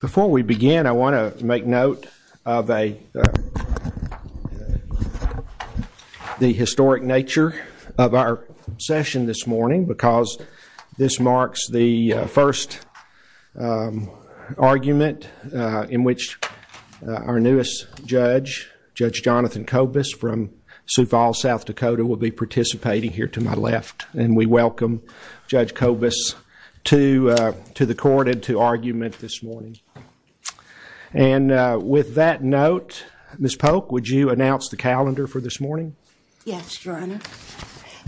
Before we begin, I want to make note of the historic nature of our session this morning because this marks the first argument in which our newest judge, Judge Jonathan Kobus from Sioux Falls, South Dakota, will be participating here to my left, and we welcome Judge Kobus to the court and to argument this morning. And with that note, Ms. Polk, would you announce the calendar for this morning? Yes, Your Honor.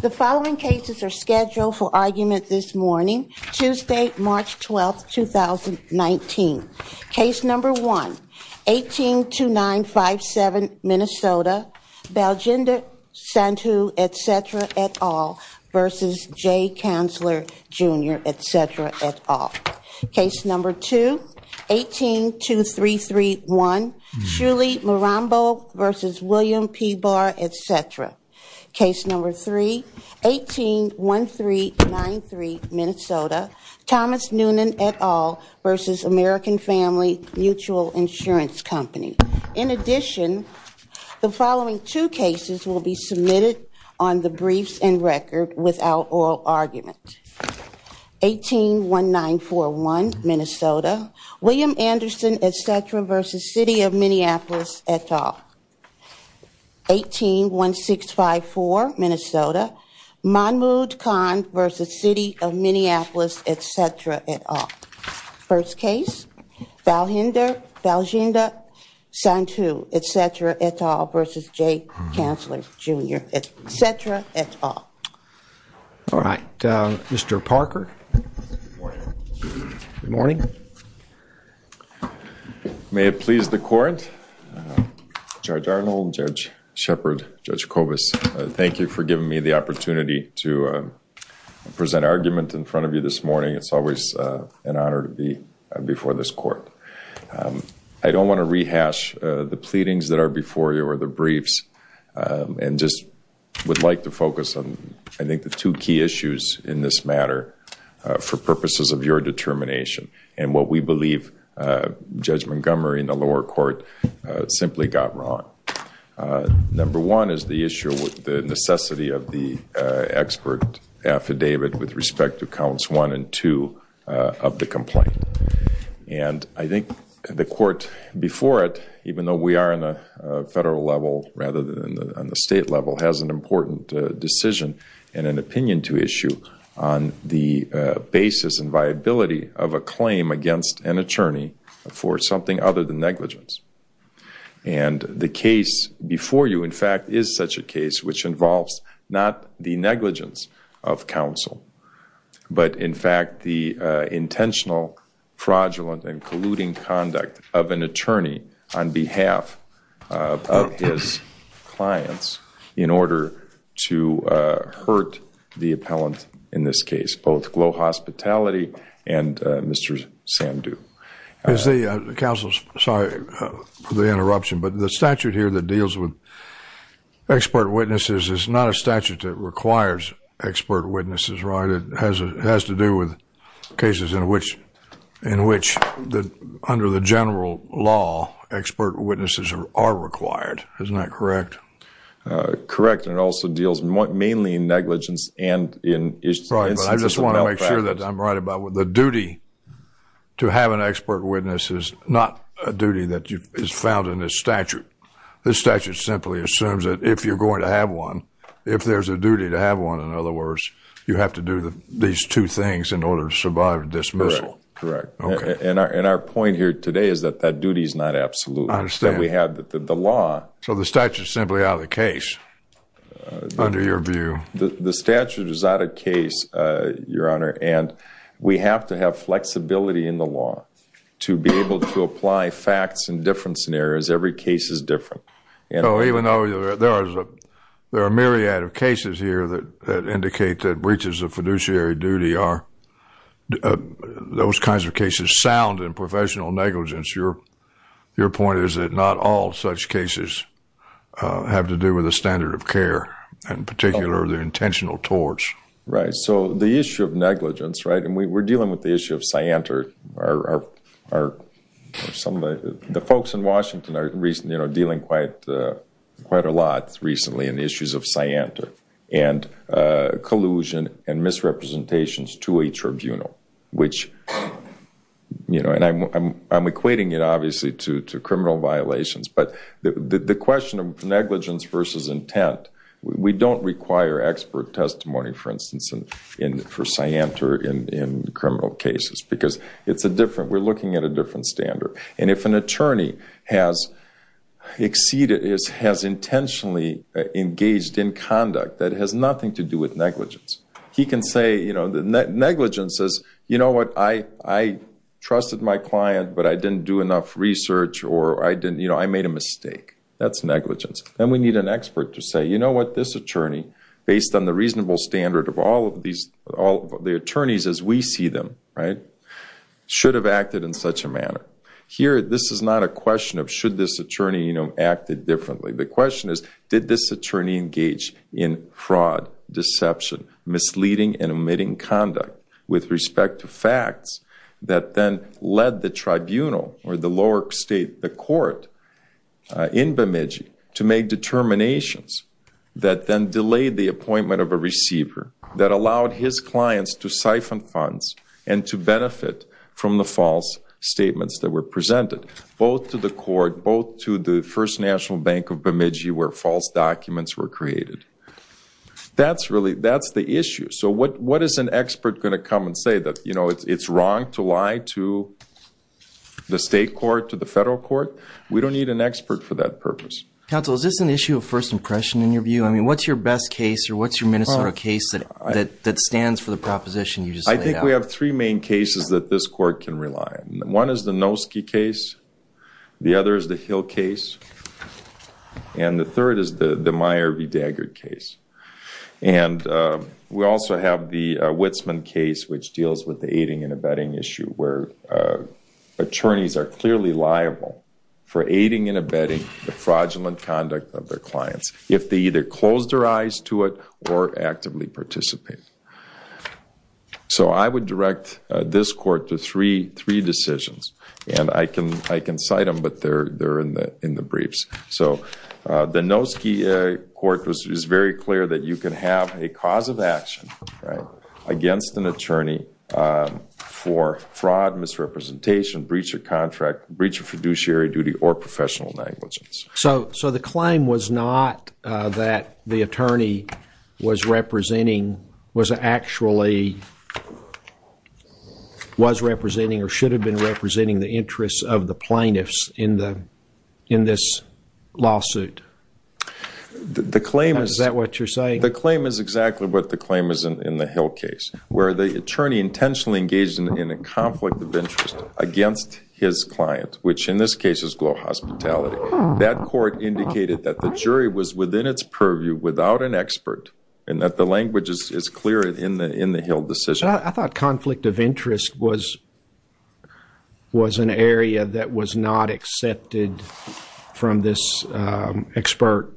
The following cases are scheduled for argument this morning, Tuesday, March 12, 2019. Case No. 1, 182957, Minnesota, Baljinder Sandhu, etc. et al. v. Jay Kanzler, Jr., etc. et al. Case No. 2, 182331, Shuley Marambo v. William P. Barr, etc. Case No. 3, 181393, Minnesota, Thomas Noonan, et al. v. American Family Mutual Insurance Company. In addition, the following two cases will be submitted on the briefs and record without oral argument. 181941, Minnesota, William Anderson, etc. v. City of Minneapolis, et al. 181654, Minnesota, Mahmoud Khan v. City of Minneapolis, etc. et al. First case, Baljinder Sandhu, etc. et al. v. Jay Kanzler, Jr., etc. et al. All right, Mr. Parker. Good morning. Good morning. May it please the Court. Judge Arnold, Judge Shepard, Judge Kovas, thank you for giving me the opportunity to present argument in front of you this morning. It's always an honor to be before this Court. I don't want to rehash the pleadings that are before you or the briefs and just would like to focus on, I think, the two key issues in this matter for purposes of your determination and what we believe Judge Montgomery in the lower court simply got wrong. Number one is the issue with the necessity of the expert affidavit with respect to counts one and two of the complaint. And I think the Court before it, even though we are on a federal level rather than on the state level, has an important decision and an opinion to issue on the basis and viability of a claim against an attorney for something other than negligence. And the case before you, in fact, is such a case which involves not the negligence of counsel, but in fact the intentional fraudulent and colluding conduct of an attorney on behalf of his clients in order to hurt the appellant in this case, both Glow Hospitality and Mr. Sandhu. Counsel, sorry for the interruption, but the statute here that deals with expert witnesses is not a statute that requires expert witnesses, right? It has to do with cases in which under the general law expert witnesses are required. Isn't that correct? Correct. And it also deals mainly in negligence and in instances of malpractice. I'm sure that I'm right about the duty to have an expert witness is not a duty that is found in this statute. This statute simply assumes that if you're going to have one, if there's a duty to have one, in other words, you have to do these two things in order to survive a dismissal. Correct. And our point here today is that that duty is not absolute. I understand. That we have the law. So the statute is simply out of the case, under your view. The statute is out of case, Your Honor, and we have to have flexibility in the law to be able to apply facts in different scenarios. Every case is different. So even though there are a myriad of cases here that indicate that breaches of fiduciary duty are those kinds of cases, sound and professional negligence, your point is that not all such cases have to do with a standard of care, in particular the intentional torts. Right. So the issue of negligence, right, and we're dealing with the issue of cyanter. The folks in Washington are dealing quite a lot recently in issues of cyanter and collusion and misrepresentations to a tribunal, and I'm equating it, obviously, to criminal violations. But the question of negligence versus intent, we don't require expert testimony, for instance, for cyanter in criminal cases because we're looking at a different standard. And if an attorney has intentionally engaged in conduct that has nothing to do with negligence, he can say negligence is, you know what, I trusted my client, but I didn't do enough research, or I made a mistake. That's negligence. Then we need an expert to say, you know what, this attorney, based on the reasonable standard of all of the attorneys as we see them, should have acted in such a manner. Here, this is not a question of should this attorney act differently. The question is, did this attorney engage in fraud, deception, misleading, and omitting conduct with respect to facts that then led the tribunal or the lower state, the court, in Bemidji to make determinations that then delayed the appointment of a receiver that allowed his clients to siphon funds and to benefit from the false statements that were presented, both to the court, both to the First National Bank of Bemidji where false documents were created. That's the issue. So what is an expert going to come and say that, you know, it's wrong to lie to the state court, to the federal court? We don't need an expert for that purpose. Counsel, is this an issue of first impression in your view? I mean, what's your best case or what's your Minnesota case that stands for the proposition you just laid out? I think we have three main cases that this court can rely on. One is the Noski case. The other is the Hill case. And the third is the Meyer v. Daggard case. And we also have the Witsman case which deals with the aiding and abetting issue where attorneys are clearly liable for aiding and abetting the fraudulent conduct of their clients if they either closed their eyes to it or actively participate. So I would direct this court to three decisions. And I can cite them, but they're in the briefs. So the Noski court was very clear that you can have a cause of action against an attorney for fraud, misrepresentation, breach of contract, breach of fiduciary duty, or professional negligence. So the claim was not that the attorney was representing, was actually, was representing or should have been representing the interests of the plaintiffs in this lawsuit? Is that what you're saying? The claim is exactly what the claim is in the Hill case where the attorney intentionally engaged in a conflict of interest against his client, which in this case is Glow Hospitality. That court indicated that the jury was within its purview without an expert and that the language is clear in the Hill decision. I thought conflict of interest was an area that was not accepted from this expert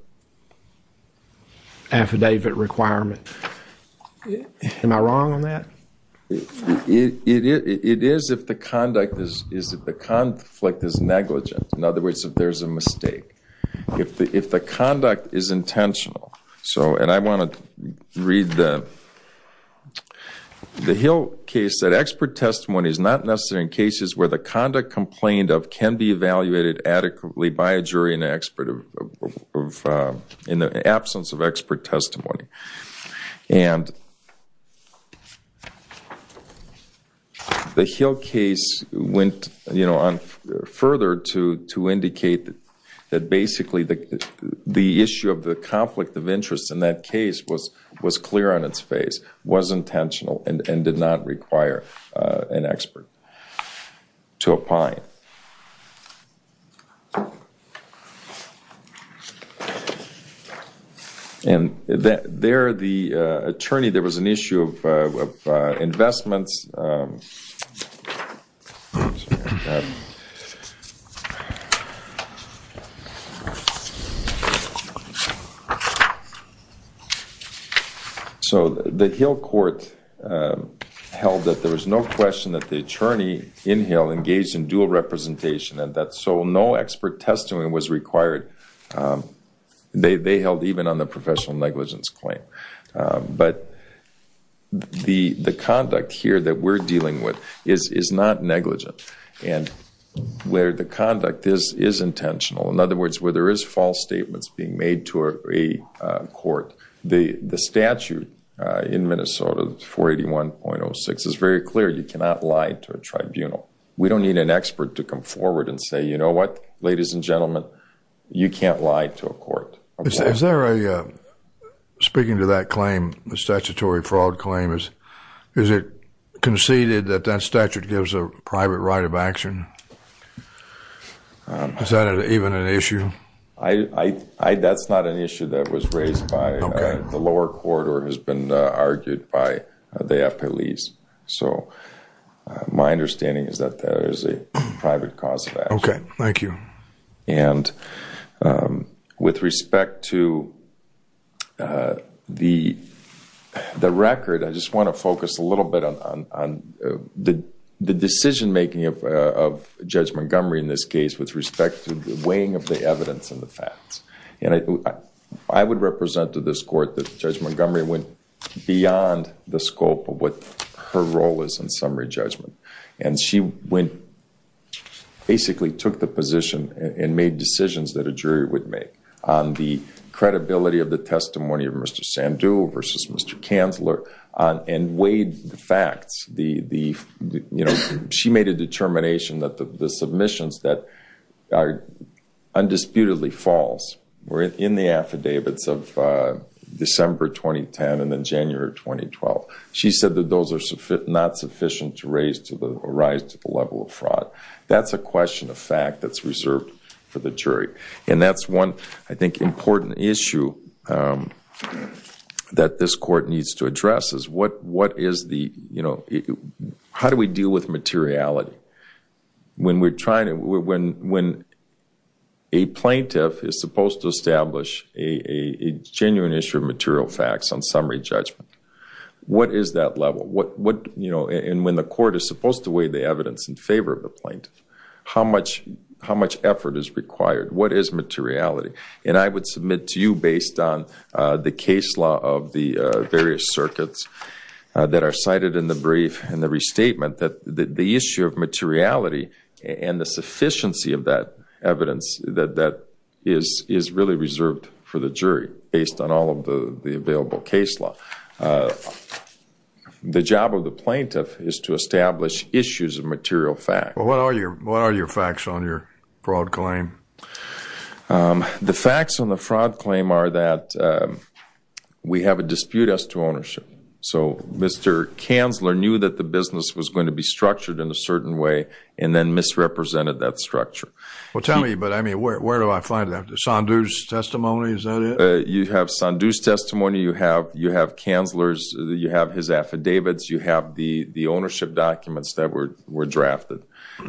affidavit requirement. Am I wrong on that? It is if the conflict is negligent. In other words, if there's a mistake. If the conduct is intentional. And I want to read the Hill case. That expert testimony is not necessary in cases where the conduct complained of can be evaluated adequately by a jury in the absence of expert testimony. And the Hill case went further to indicate that basically the issue of the conflict of interest in that case was clear on its face, was intentional, and did not require an expert to opine. And there, the attorney, there was an issue of investments. So the Hill court held that there was no question that the attorney in Hill engaged in dual representation so no expert testimony was required. They held even on the professional negligence claim. But the conduct here that we're dealing with is not negligent. And where the conduct is intentional, in other words, where there is false statements being made to a court, the statute in Minnesota, 481.06, is very clear. You cannot lie to a tribunal. We don't need an expert to come forward and say, you know what, ladies and gentlemen, you can't lie to a court. Is there a, speaking to that claim, the statutory fraud claim, is it conceded that that statute gives a private right of action? Is that even an issue? That's not an issue that was raised by the lower court or has been argued by the appellees. So my understanding is that there is a private cause of action. Okay, thank you. And with respect to the record, I just want to focus a little bit on the decision making of Judge Montgomery in this case with respect to the weighing of the evidence and the facts. I would represent to this court that Judge Montgomery went beyond the scope of what her role is in summary judgment. And she went, basically took the position and made decisions that a jury would make on the credibility of the testimony of Mr. Sandhu versus Mr. Kanzler and weighed the facts. She made a determination that the submissions that are undisputedly false were in the affidavits of December 2010 and then January 2012. She said that those are not sufficient to rise to the level of fraud. That's a question of fact that's reserved for the jury. And that's one, I think, important issue that this court needs to address is how do we deal with materiality? When a plaintiff is supposed to establish a genuine issue of material facts on summary judgment, what is that level? And when the court is supposed to weigh the evidence in favor of the plaintiff, how much effort is required? What is materiality? And I would submit to you based on the case law of the various circuits that are cited in the brief and the restatement that the issue of materiality and the sufficiency of that evidence that is really reserved for the jury based on all of the available case law. The job of the plaintiff is to establish issues of material facts. Well, what are your facts on your fraud claim? The facts on the fraud claim are that we have a dispute as to ownership. So Mr. Kanzler knew that the business was going to be structured in a certain way and then misrepresented that structure. Well, tell me, but I mean, where do I find that? Sandhu's testimony, is that it? You have Sandhu's testimony. You have Kanzler's. You have his affidavits. You have the ownership documents that were drafted.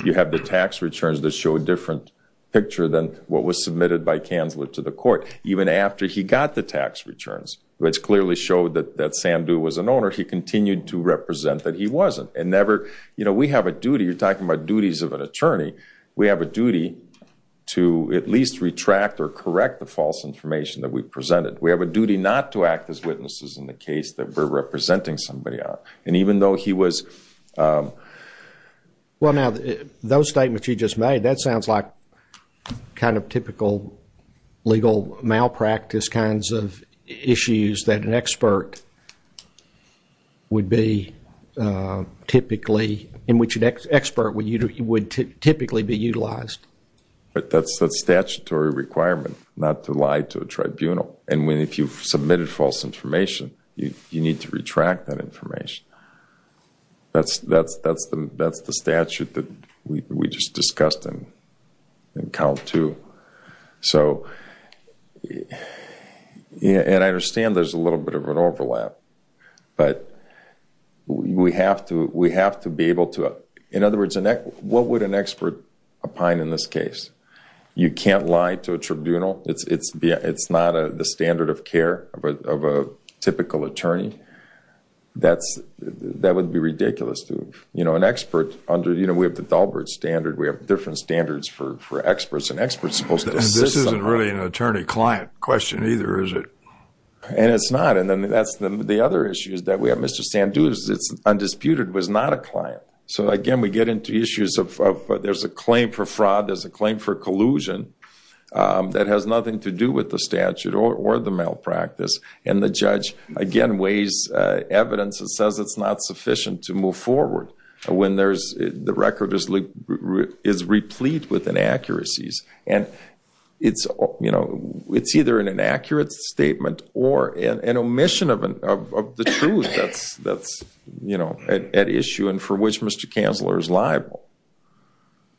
You have the tax returns that show a different picture than what was submitted by Kanzler to the court. Even after he got the tax returns, which clearly showed that Sandhu was an owner, he continued to represent that he wasn't. We have a duty. You're talking about duties of an attorney. We have a duty to at least retract or correct the false information that we've presented. We have a duty not to act as witnesses in the case that we're representing somebody on. And even though he was... Well, now, those statements you just made, that sounds like kind of typical legal malpractice kinds of issues that an expert would be typically... in which an expert would typically be utilized. But that's a statutory requirement, not to lie to a tribunal. And if you've submitted false information, you need to retract that information. That's the statute that we just discussed in count two. And I understand there's a little bit of an overlap, but we have to be able to... In other words, what would an expert opine in this case? You can't lie to a tribunal. It's not the standard of care of a typical attorney. That would be ridiculous to an expert. We have the Dahlberg standard. We have different standards for experts. An expert's supposed to assist somebody. And this isn't really an attorney-client question either, is it? And it's not. And that's the other issue that we have. Mr. Sandhu's, it's undisputed, was not a client. So, again, we get into issues of there's a claim for fraud. There's a claim for collusion that has nothing to do with the statute or the malpractice. And the judge, again, weighs evidence that says it's not sufficient to move forward when the record is replete with inaccuracies. And it's either an inaccurate statement or an omission of the truth that's at issue and for which Mr. Kanzler is liable.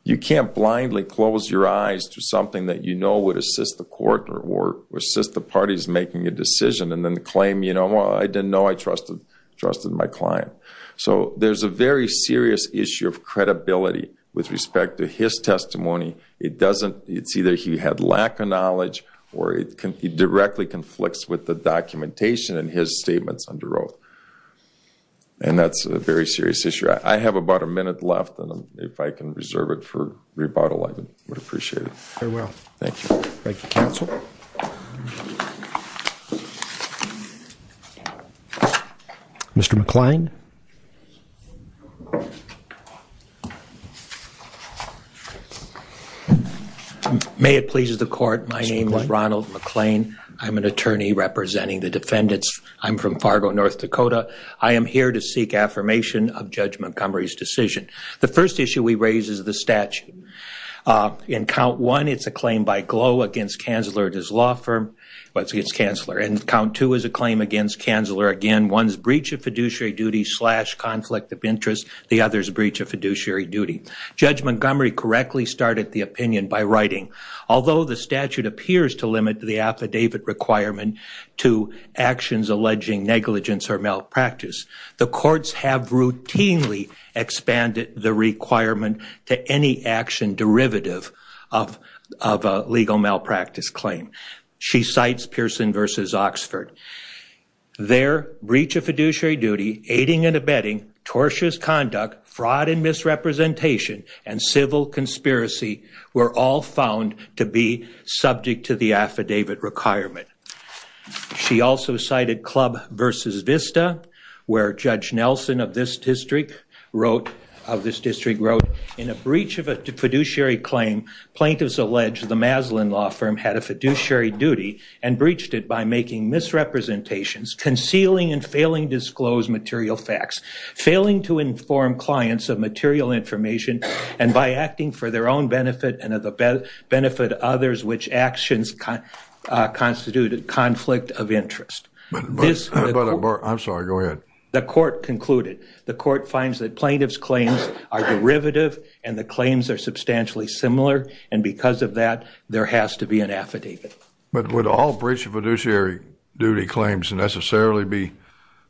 You can't blindly close your eyes to something that you know would assist the court or assist the parties making a decision and then claim, you know, I didn't know I trusted my client. So there's a very serious issue of credibility with respect to his testimony. It's either he had lack of knowledge or he directly conflicts with the documentation in his statements under oath. And that's a very serious issue. I have about a minute left, and if I can reserve it for rebuttal, I would appreciate it. Very well. Thank you. Thank you, counsel. Mr. McClain. May it please the court, my name is Ronald McClain. I'm an attorney representing the defendants. I'm from Fargo, North Dakota. I am here to seek affirmation of Judge Montgomery's decision. The first issue we raise is the statute. In count one, it's a claim by Glow against Kanzler and his law firm. Well, it's against Kanzler. And count two is a claim against Kanzler. Again, one is breach of fiduciary duty slash conflict of interest. The other is breach of fiduciary duty. Judge Montgomery correctly started the opinion by writing, although the statute appears to limit the affidavit requirement to actions alleging negligence or malpractice, the courts have routinely expanded the requirement to any action derivative of a legal malpractice claim. She cites Pearson v. Oxford. There, breach of fiduciary duty, aiding and abetting, tortuous conduct, fraud and misrepresentation, and civil conspiracy were all found to be subject to the affidavit requirement. She also cited Club v. Vista, where Judge Nelson of this district wrote, in a breach of a fiduciary claim, plaintiffs allege the Maslin law firm had a fiduciary duty and breached it by making misrepresentations, concealing and failing to disclose material facts, failing to inform clients of material information, and by acting for their own benefit and the benefit of others, which actions constitute a conflict of interest. I'm sorry, go ahead. The court concluded. The court finds that plaintiff's claims are derivative and the claims are substantially similar, and because of that, there has to be an affidavit. But would all breach of fiduciary duty claims necessarily be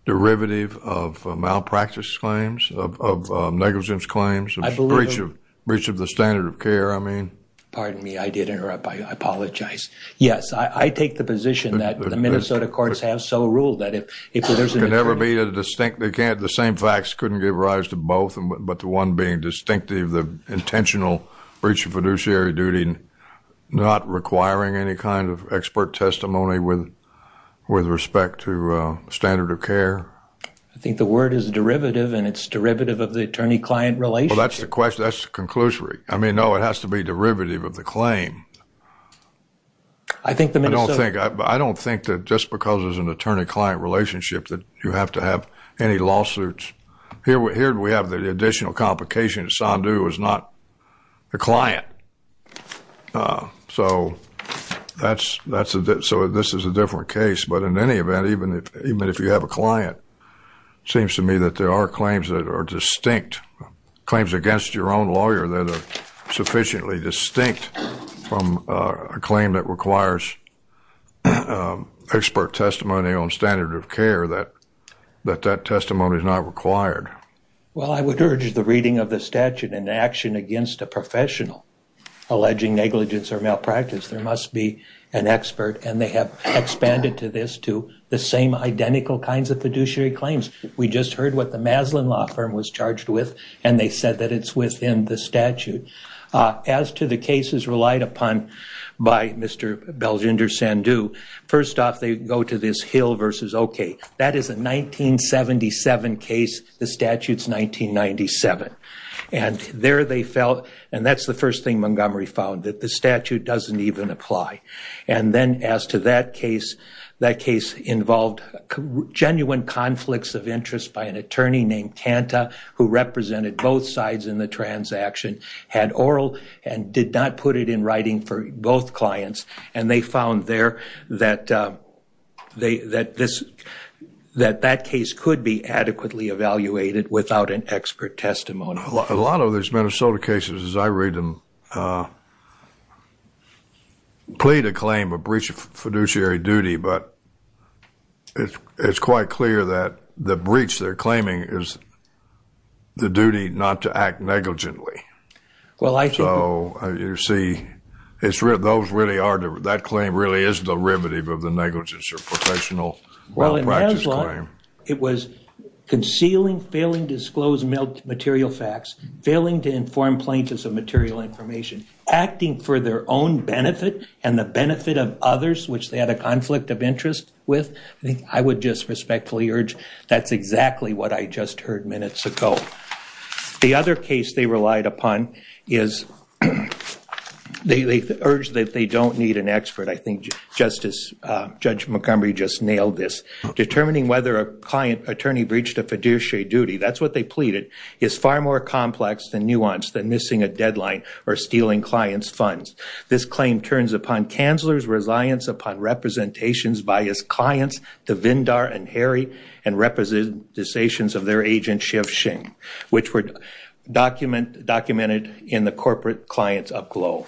derivative of malpractice claims, of negligence claims? Breach of the standard of care, I mean. Pardon me, I did interrupt. I apologize. Yes, I take the position that the Minnesota courts have so ruled that if there's an attorney. It can never be a distinct. The same facts couldn't give rise to both but the one being distinctive, the intentional breach of fiduciary duty not requiring any kind of expert testimony with respect to standard of care. I think the word is derivative, and it's derivative of the attorney-client relationship. Well, that's the question. That's the conclusory. I mean, no, it has to be derivative of the claim. I think the Minnesota. I don't think that just because there's an attorney-client relationship that you have to have any lawsuits. Here we have the additional complication that Sandu is not a client. So this is a different case. But in any event, even if you have a client, it seems to me that there are claims that are distinct, claims against your own lawyer that are sufficiently distinct from a claim that requires expert testimony on standard of care that that testimony is not required. Well, I would urge the reading of the statute and action against a professional alleging negligence or malpractice. There must be an expert, and they have expanded to this, to the same identical kinds of fiduciary claims. We just heard what the Maslin Law Firm was charged with, and they said that it's within the statute. As to the cases relied upon by Mr. Belgender Sandu, first off, they go to this Hill v. Oakey. That is a 1977 case. The statute's 1997. And there they felt, and that's the first thing Montgomery found, that the statute doesn't even apply. And then as to that case, that case involved genuine conflicts of interest by an attorney named Tanta, who represented both sides in the transaction, had oral and did not put it in writing for both clients, and they found there that that case could be adequately evaluated without an expert testimony. A lot of these Minnesota cases, as I read them, plead to claim a breach of fiduciary duty, but it's quite clear that the breach they're claiming is the duty not to act negligently. So you see, those really are, that claim really is derivative of the negligence or professional malpractice claim. It was concealing, failing to disclose material facts, failing to inform plaintiffs of material information, acting for their own benefit and the benefit of others, which they had a conflict of interest with. I would just respectfully urge that's exactly what I just heard minutes ago. The other case they relied upon is they urged that they don't need an expert. I think Justice, Judge Montgomery just nailed this. Determining whether a client attorney breached a fiduciary duty, that's what they pleaded, is far more complex and nuanced than missing a deadline or stealing clients' funds. This claim turns upon counselors' reliance upon representations by his clients, the Vindar and Harry, and representations of their agent Shiv Singh, which were documented in the corporate client's upglow.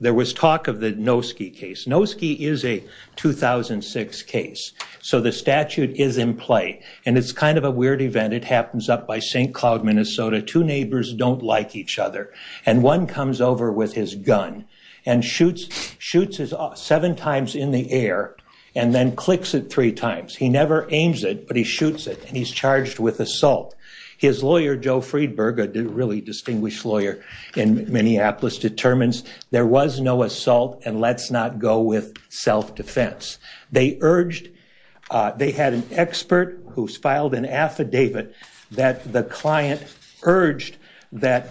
There was talk of the Nosky case. Nosky is a 2006 case, so the statute is in play, and it's kind of a weird event. It happens up by St. Cloud, Minnesota. Two neighbors don't like each other, and one comes over with his gun and shoots it seven times in the air and then clicks it three times. He never aims it, but he shoots it, and he's charged with assault. His lawyer, Joe Friedberg, a really distinguished lawyer in Minneapolis, determines there was no assault, and let's not go with self-defense. They had an expert who filed an affidavit that the client urged that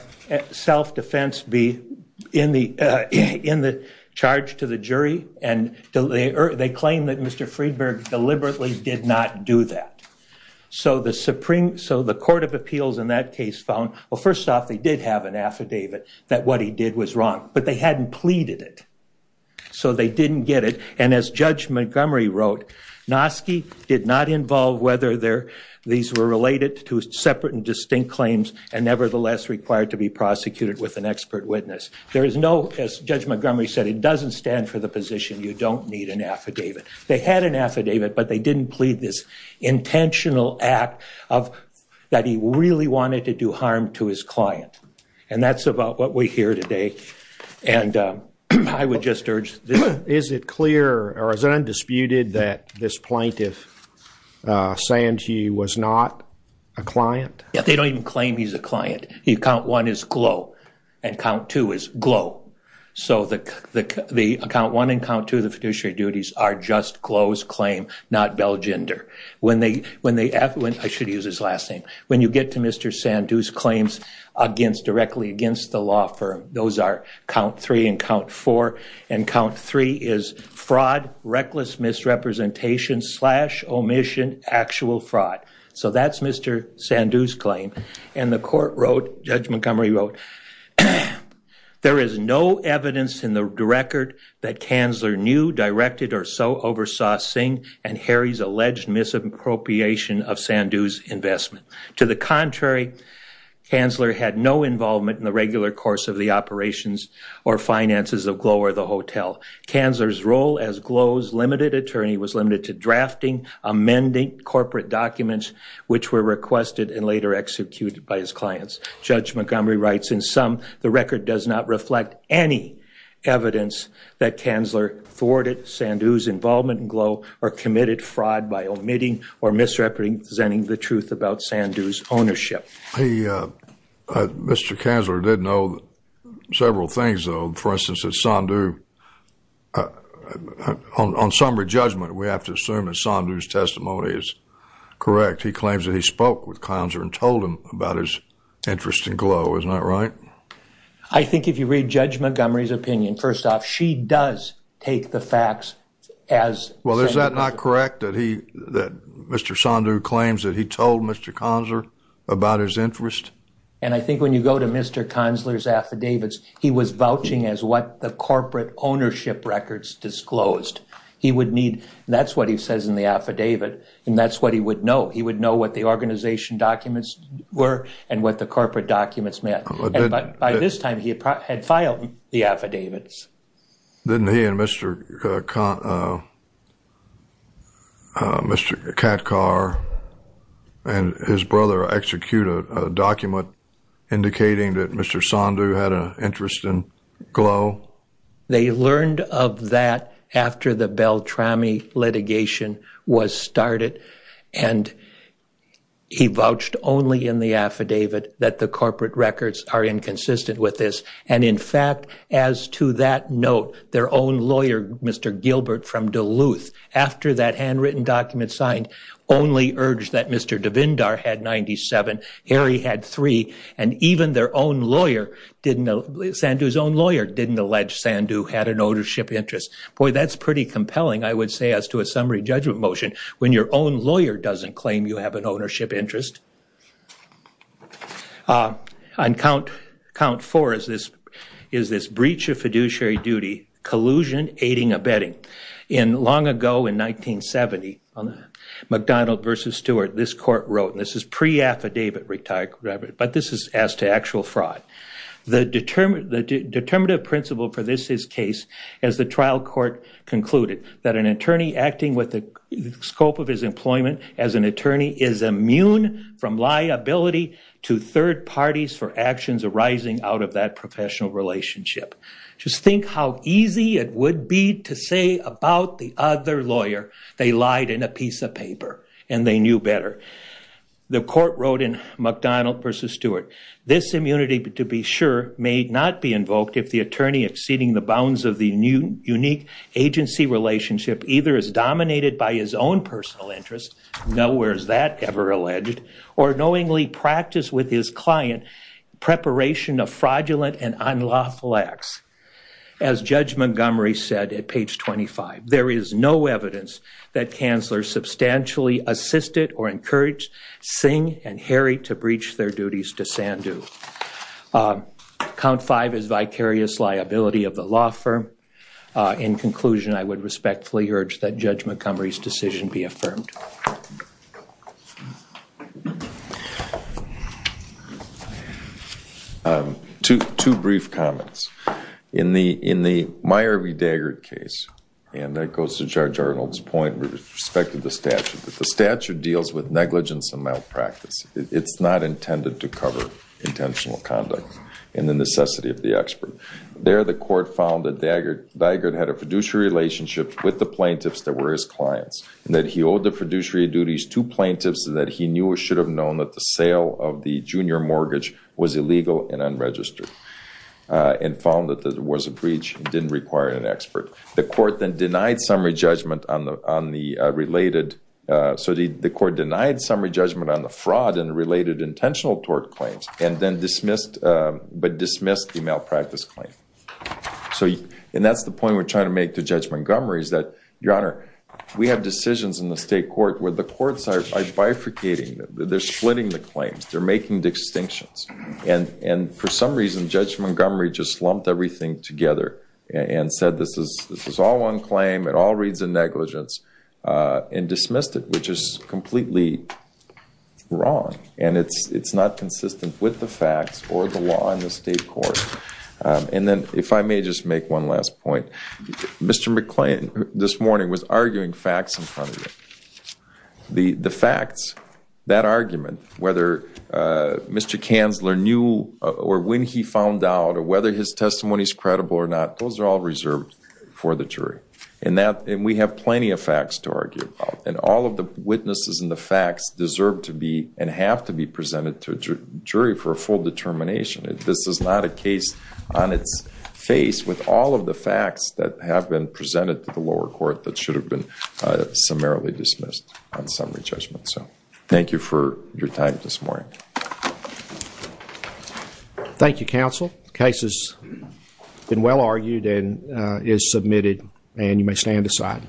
self-defense be in the charge to the jury, and they claim that Mr. Friedberg deliberately did not do that. So the Court of Appeals in that case found, well, first off, they did have an affidavit that what he did was wrong, but they hadn't pleaded it, so they didn't get it. And as Judge Montgomery wrote, Nosky did not involve whether these were related to separate and distinct claims and nevertheless required to be prosecuted with an expert witness. There is no, as Judge Montgomery said, it doesn't stand for the position you don't need an affidavit. They had an affidavit, but they didn't plead this intentional act that he really wanted to do harm to his client, and that's about what we hear today, and I would just urge this. Is it clear or is it undisputed that this plaintiff, Sandhu, was not a client? Yeah, they don't even claim he's a client. Account one is Glow, and account two is Glow. So the account one and account two of the fiduciary duties are just Glow's claim, not Belgender. I should use his last name. When you get to Mr. Sandhu's claims directly against the law firm, those are count three and count four, and count three is fraud, reckless misrepresentation, slash, omission, actual fraud. So that's Mr. Sandhu's claim, and the court wrote, Judge Montgomery wrote, there is no evidence in the record that Kanzler knew, directed, or so oversaw Singh and Harry's alleged misappropriation of Sandhu's investment. To the contrary, Kanzler had no involvement in the regular course of the operations or finances of Glow or the hotel. Kanzler's role as Glow's limited attorney was limited to drafting, amending corporate documents, which were requested and later executed by his clients. Judge Montgomery writes, in sum, the record does not reflect any evidence that Kanzler thwarted Sandhu's involvement in Glow or committed fraud by omitting or misrepresenting the truth about Sandhu's ownership. Mr. Kanzler did know several things, though. For instance, Sandhu, on somber judgment, we have to assume that Sandhu's testimony is correct. He claims that he spoke with Kanzler and told him about his interest in Glow. Isn't that right? I think if you read Judge Montgomery's opinion, first off, she does take the facts as... Well, is that not correct, that he, that Mr. Sandhu claims that he told Mr. Kanzler about his interest? And I think when you go to Mr. Kanzler's affidavits, he was vouching as what the corporate ownership records disclosed. He would need, and that's what he says in the affidavit, and that's what he would know. He would know what the organization documents were and what the corporate documents meant. But by this time, he had filed the affidavits. Didn't he and Mr. Katkar and his brother execute a document indicating that Mr. Sandhu had an interest in Glow? They learned of that after the Beltrami litigation was started. And he vouched only in the affidavit that the corporate records are inconsistent with this. And, in fact, as to that note, their own lawyer, Mr. Gilbert from Duluth, after that handwritten document signed, only urged that Mr. Devendar had 97, Harry had three, and even their own lawyer didn't, Sandhu's own lawyer didn't allege Sandhu had an ownership interest. Boy, that's pretty compelling, I would say, as to a summary judgment motion, when your own lawyer doesn't claim you have an ownership interest. On count four is this breach of fiduciary duty, collusion, aiding, abetting. Long ago, in 1970, on McDonald v. Stewart, this court wrote, and this is pre-affidavit retirement, but this is as to actual fraud. The determinative principle for this is case, as the trial court concluded, that an attorney acting with the scope of his employment as an attorney is immune from liability to third parties for actions arising out of that professional relationship. Just think how easy it would be to say about the other lawyer they lied in a piece of paper and they knew better. The court wrote in McDonald v. Stewart, this immunity, to be sure, may not be invoked if the attorney exceeding the bounds of the unique agency relationship either is dominated by his own personal interest, nowhere is that ever alleged, or knowingly practiced with his client, preparation of fraudulent and unlawful acts. As Judge Montgomery said at page 25, there is no evidence that counselors substantially assisted or encouraged Singh and Harry to breach their duties to Sandhu. Count five is vicarious liability of the law firm. In conclusion, I would respectfully urge that Judge Montgomery's decision be affirmed. Two brief comments. In the Meyer v. Daggert case, and that goes to Judge Arnold's point with respect to the statute, the statute deals with negligence and malpractice. It's not intended to cover intentional conduct in the necessity of the expert. There the court found that Daggert had a fiduciary relationship with the plaintiffs that were his clients, and that he owed the fiduciary duties to plaintiffs, and that he knew or should have known that the sale of the junior mortgage was illegal and unregistered, and found that there was a breach and didn't require an expert. The court then denied summary judgment on the related, so the court denied summary judgment on the fraud and related intentional tort claims, and then dismissed the malpractice claim. And that's the point we're trying to make to Judge Montgomery is that, Your Honor, we have decisions in the state court where the courts are bifurcating. They're splitting the claims. They're making distinctions. And for some reason, Judge Montgomery just lumped everything together and said this is all one claim, it all reads in negligence, and dismissed it, which is completely wrong. And it's not consistent with the facts or the law in the state court. And then if I may just make one last point. Mr. McClain this morning was arguing facts in front of you. The facts, that argument, whether Mr. Kanzler knew or when he found out or whether his testimony is credible or not, those are all reserved for the jury. And we have plenty of facts to argue about. And all of the witnesses and the facts deserve to be and have to be presented to a jury for a full determination. This is not a case on its face with all of the facts that have been presented to the lower court that should have been summarily dismissed on summary judgment. Thank you for your time this morning. Thank you, counsel. The case has been well argued and is submitted. And you may stand aside.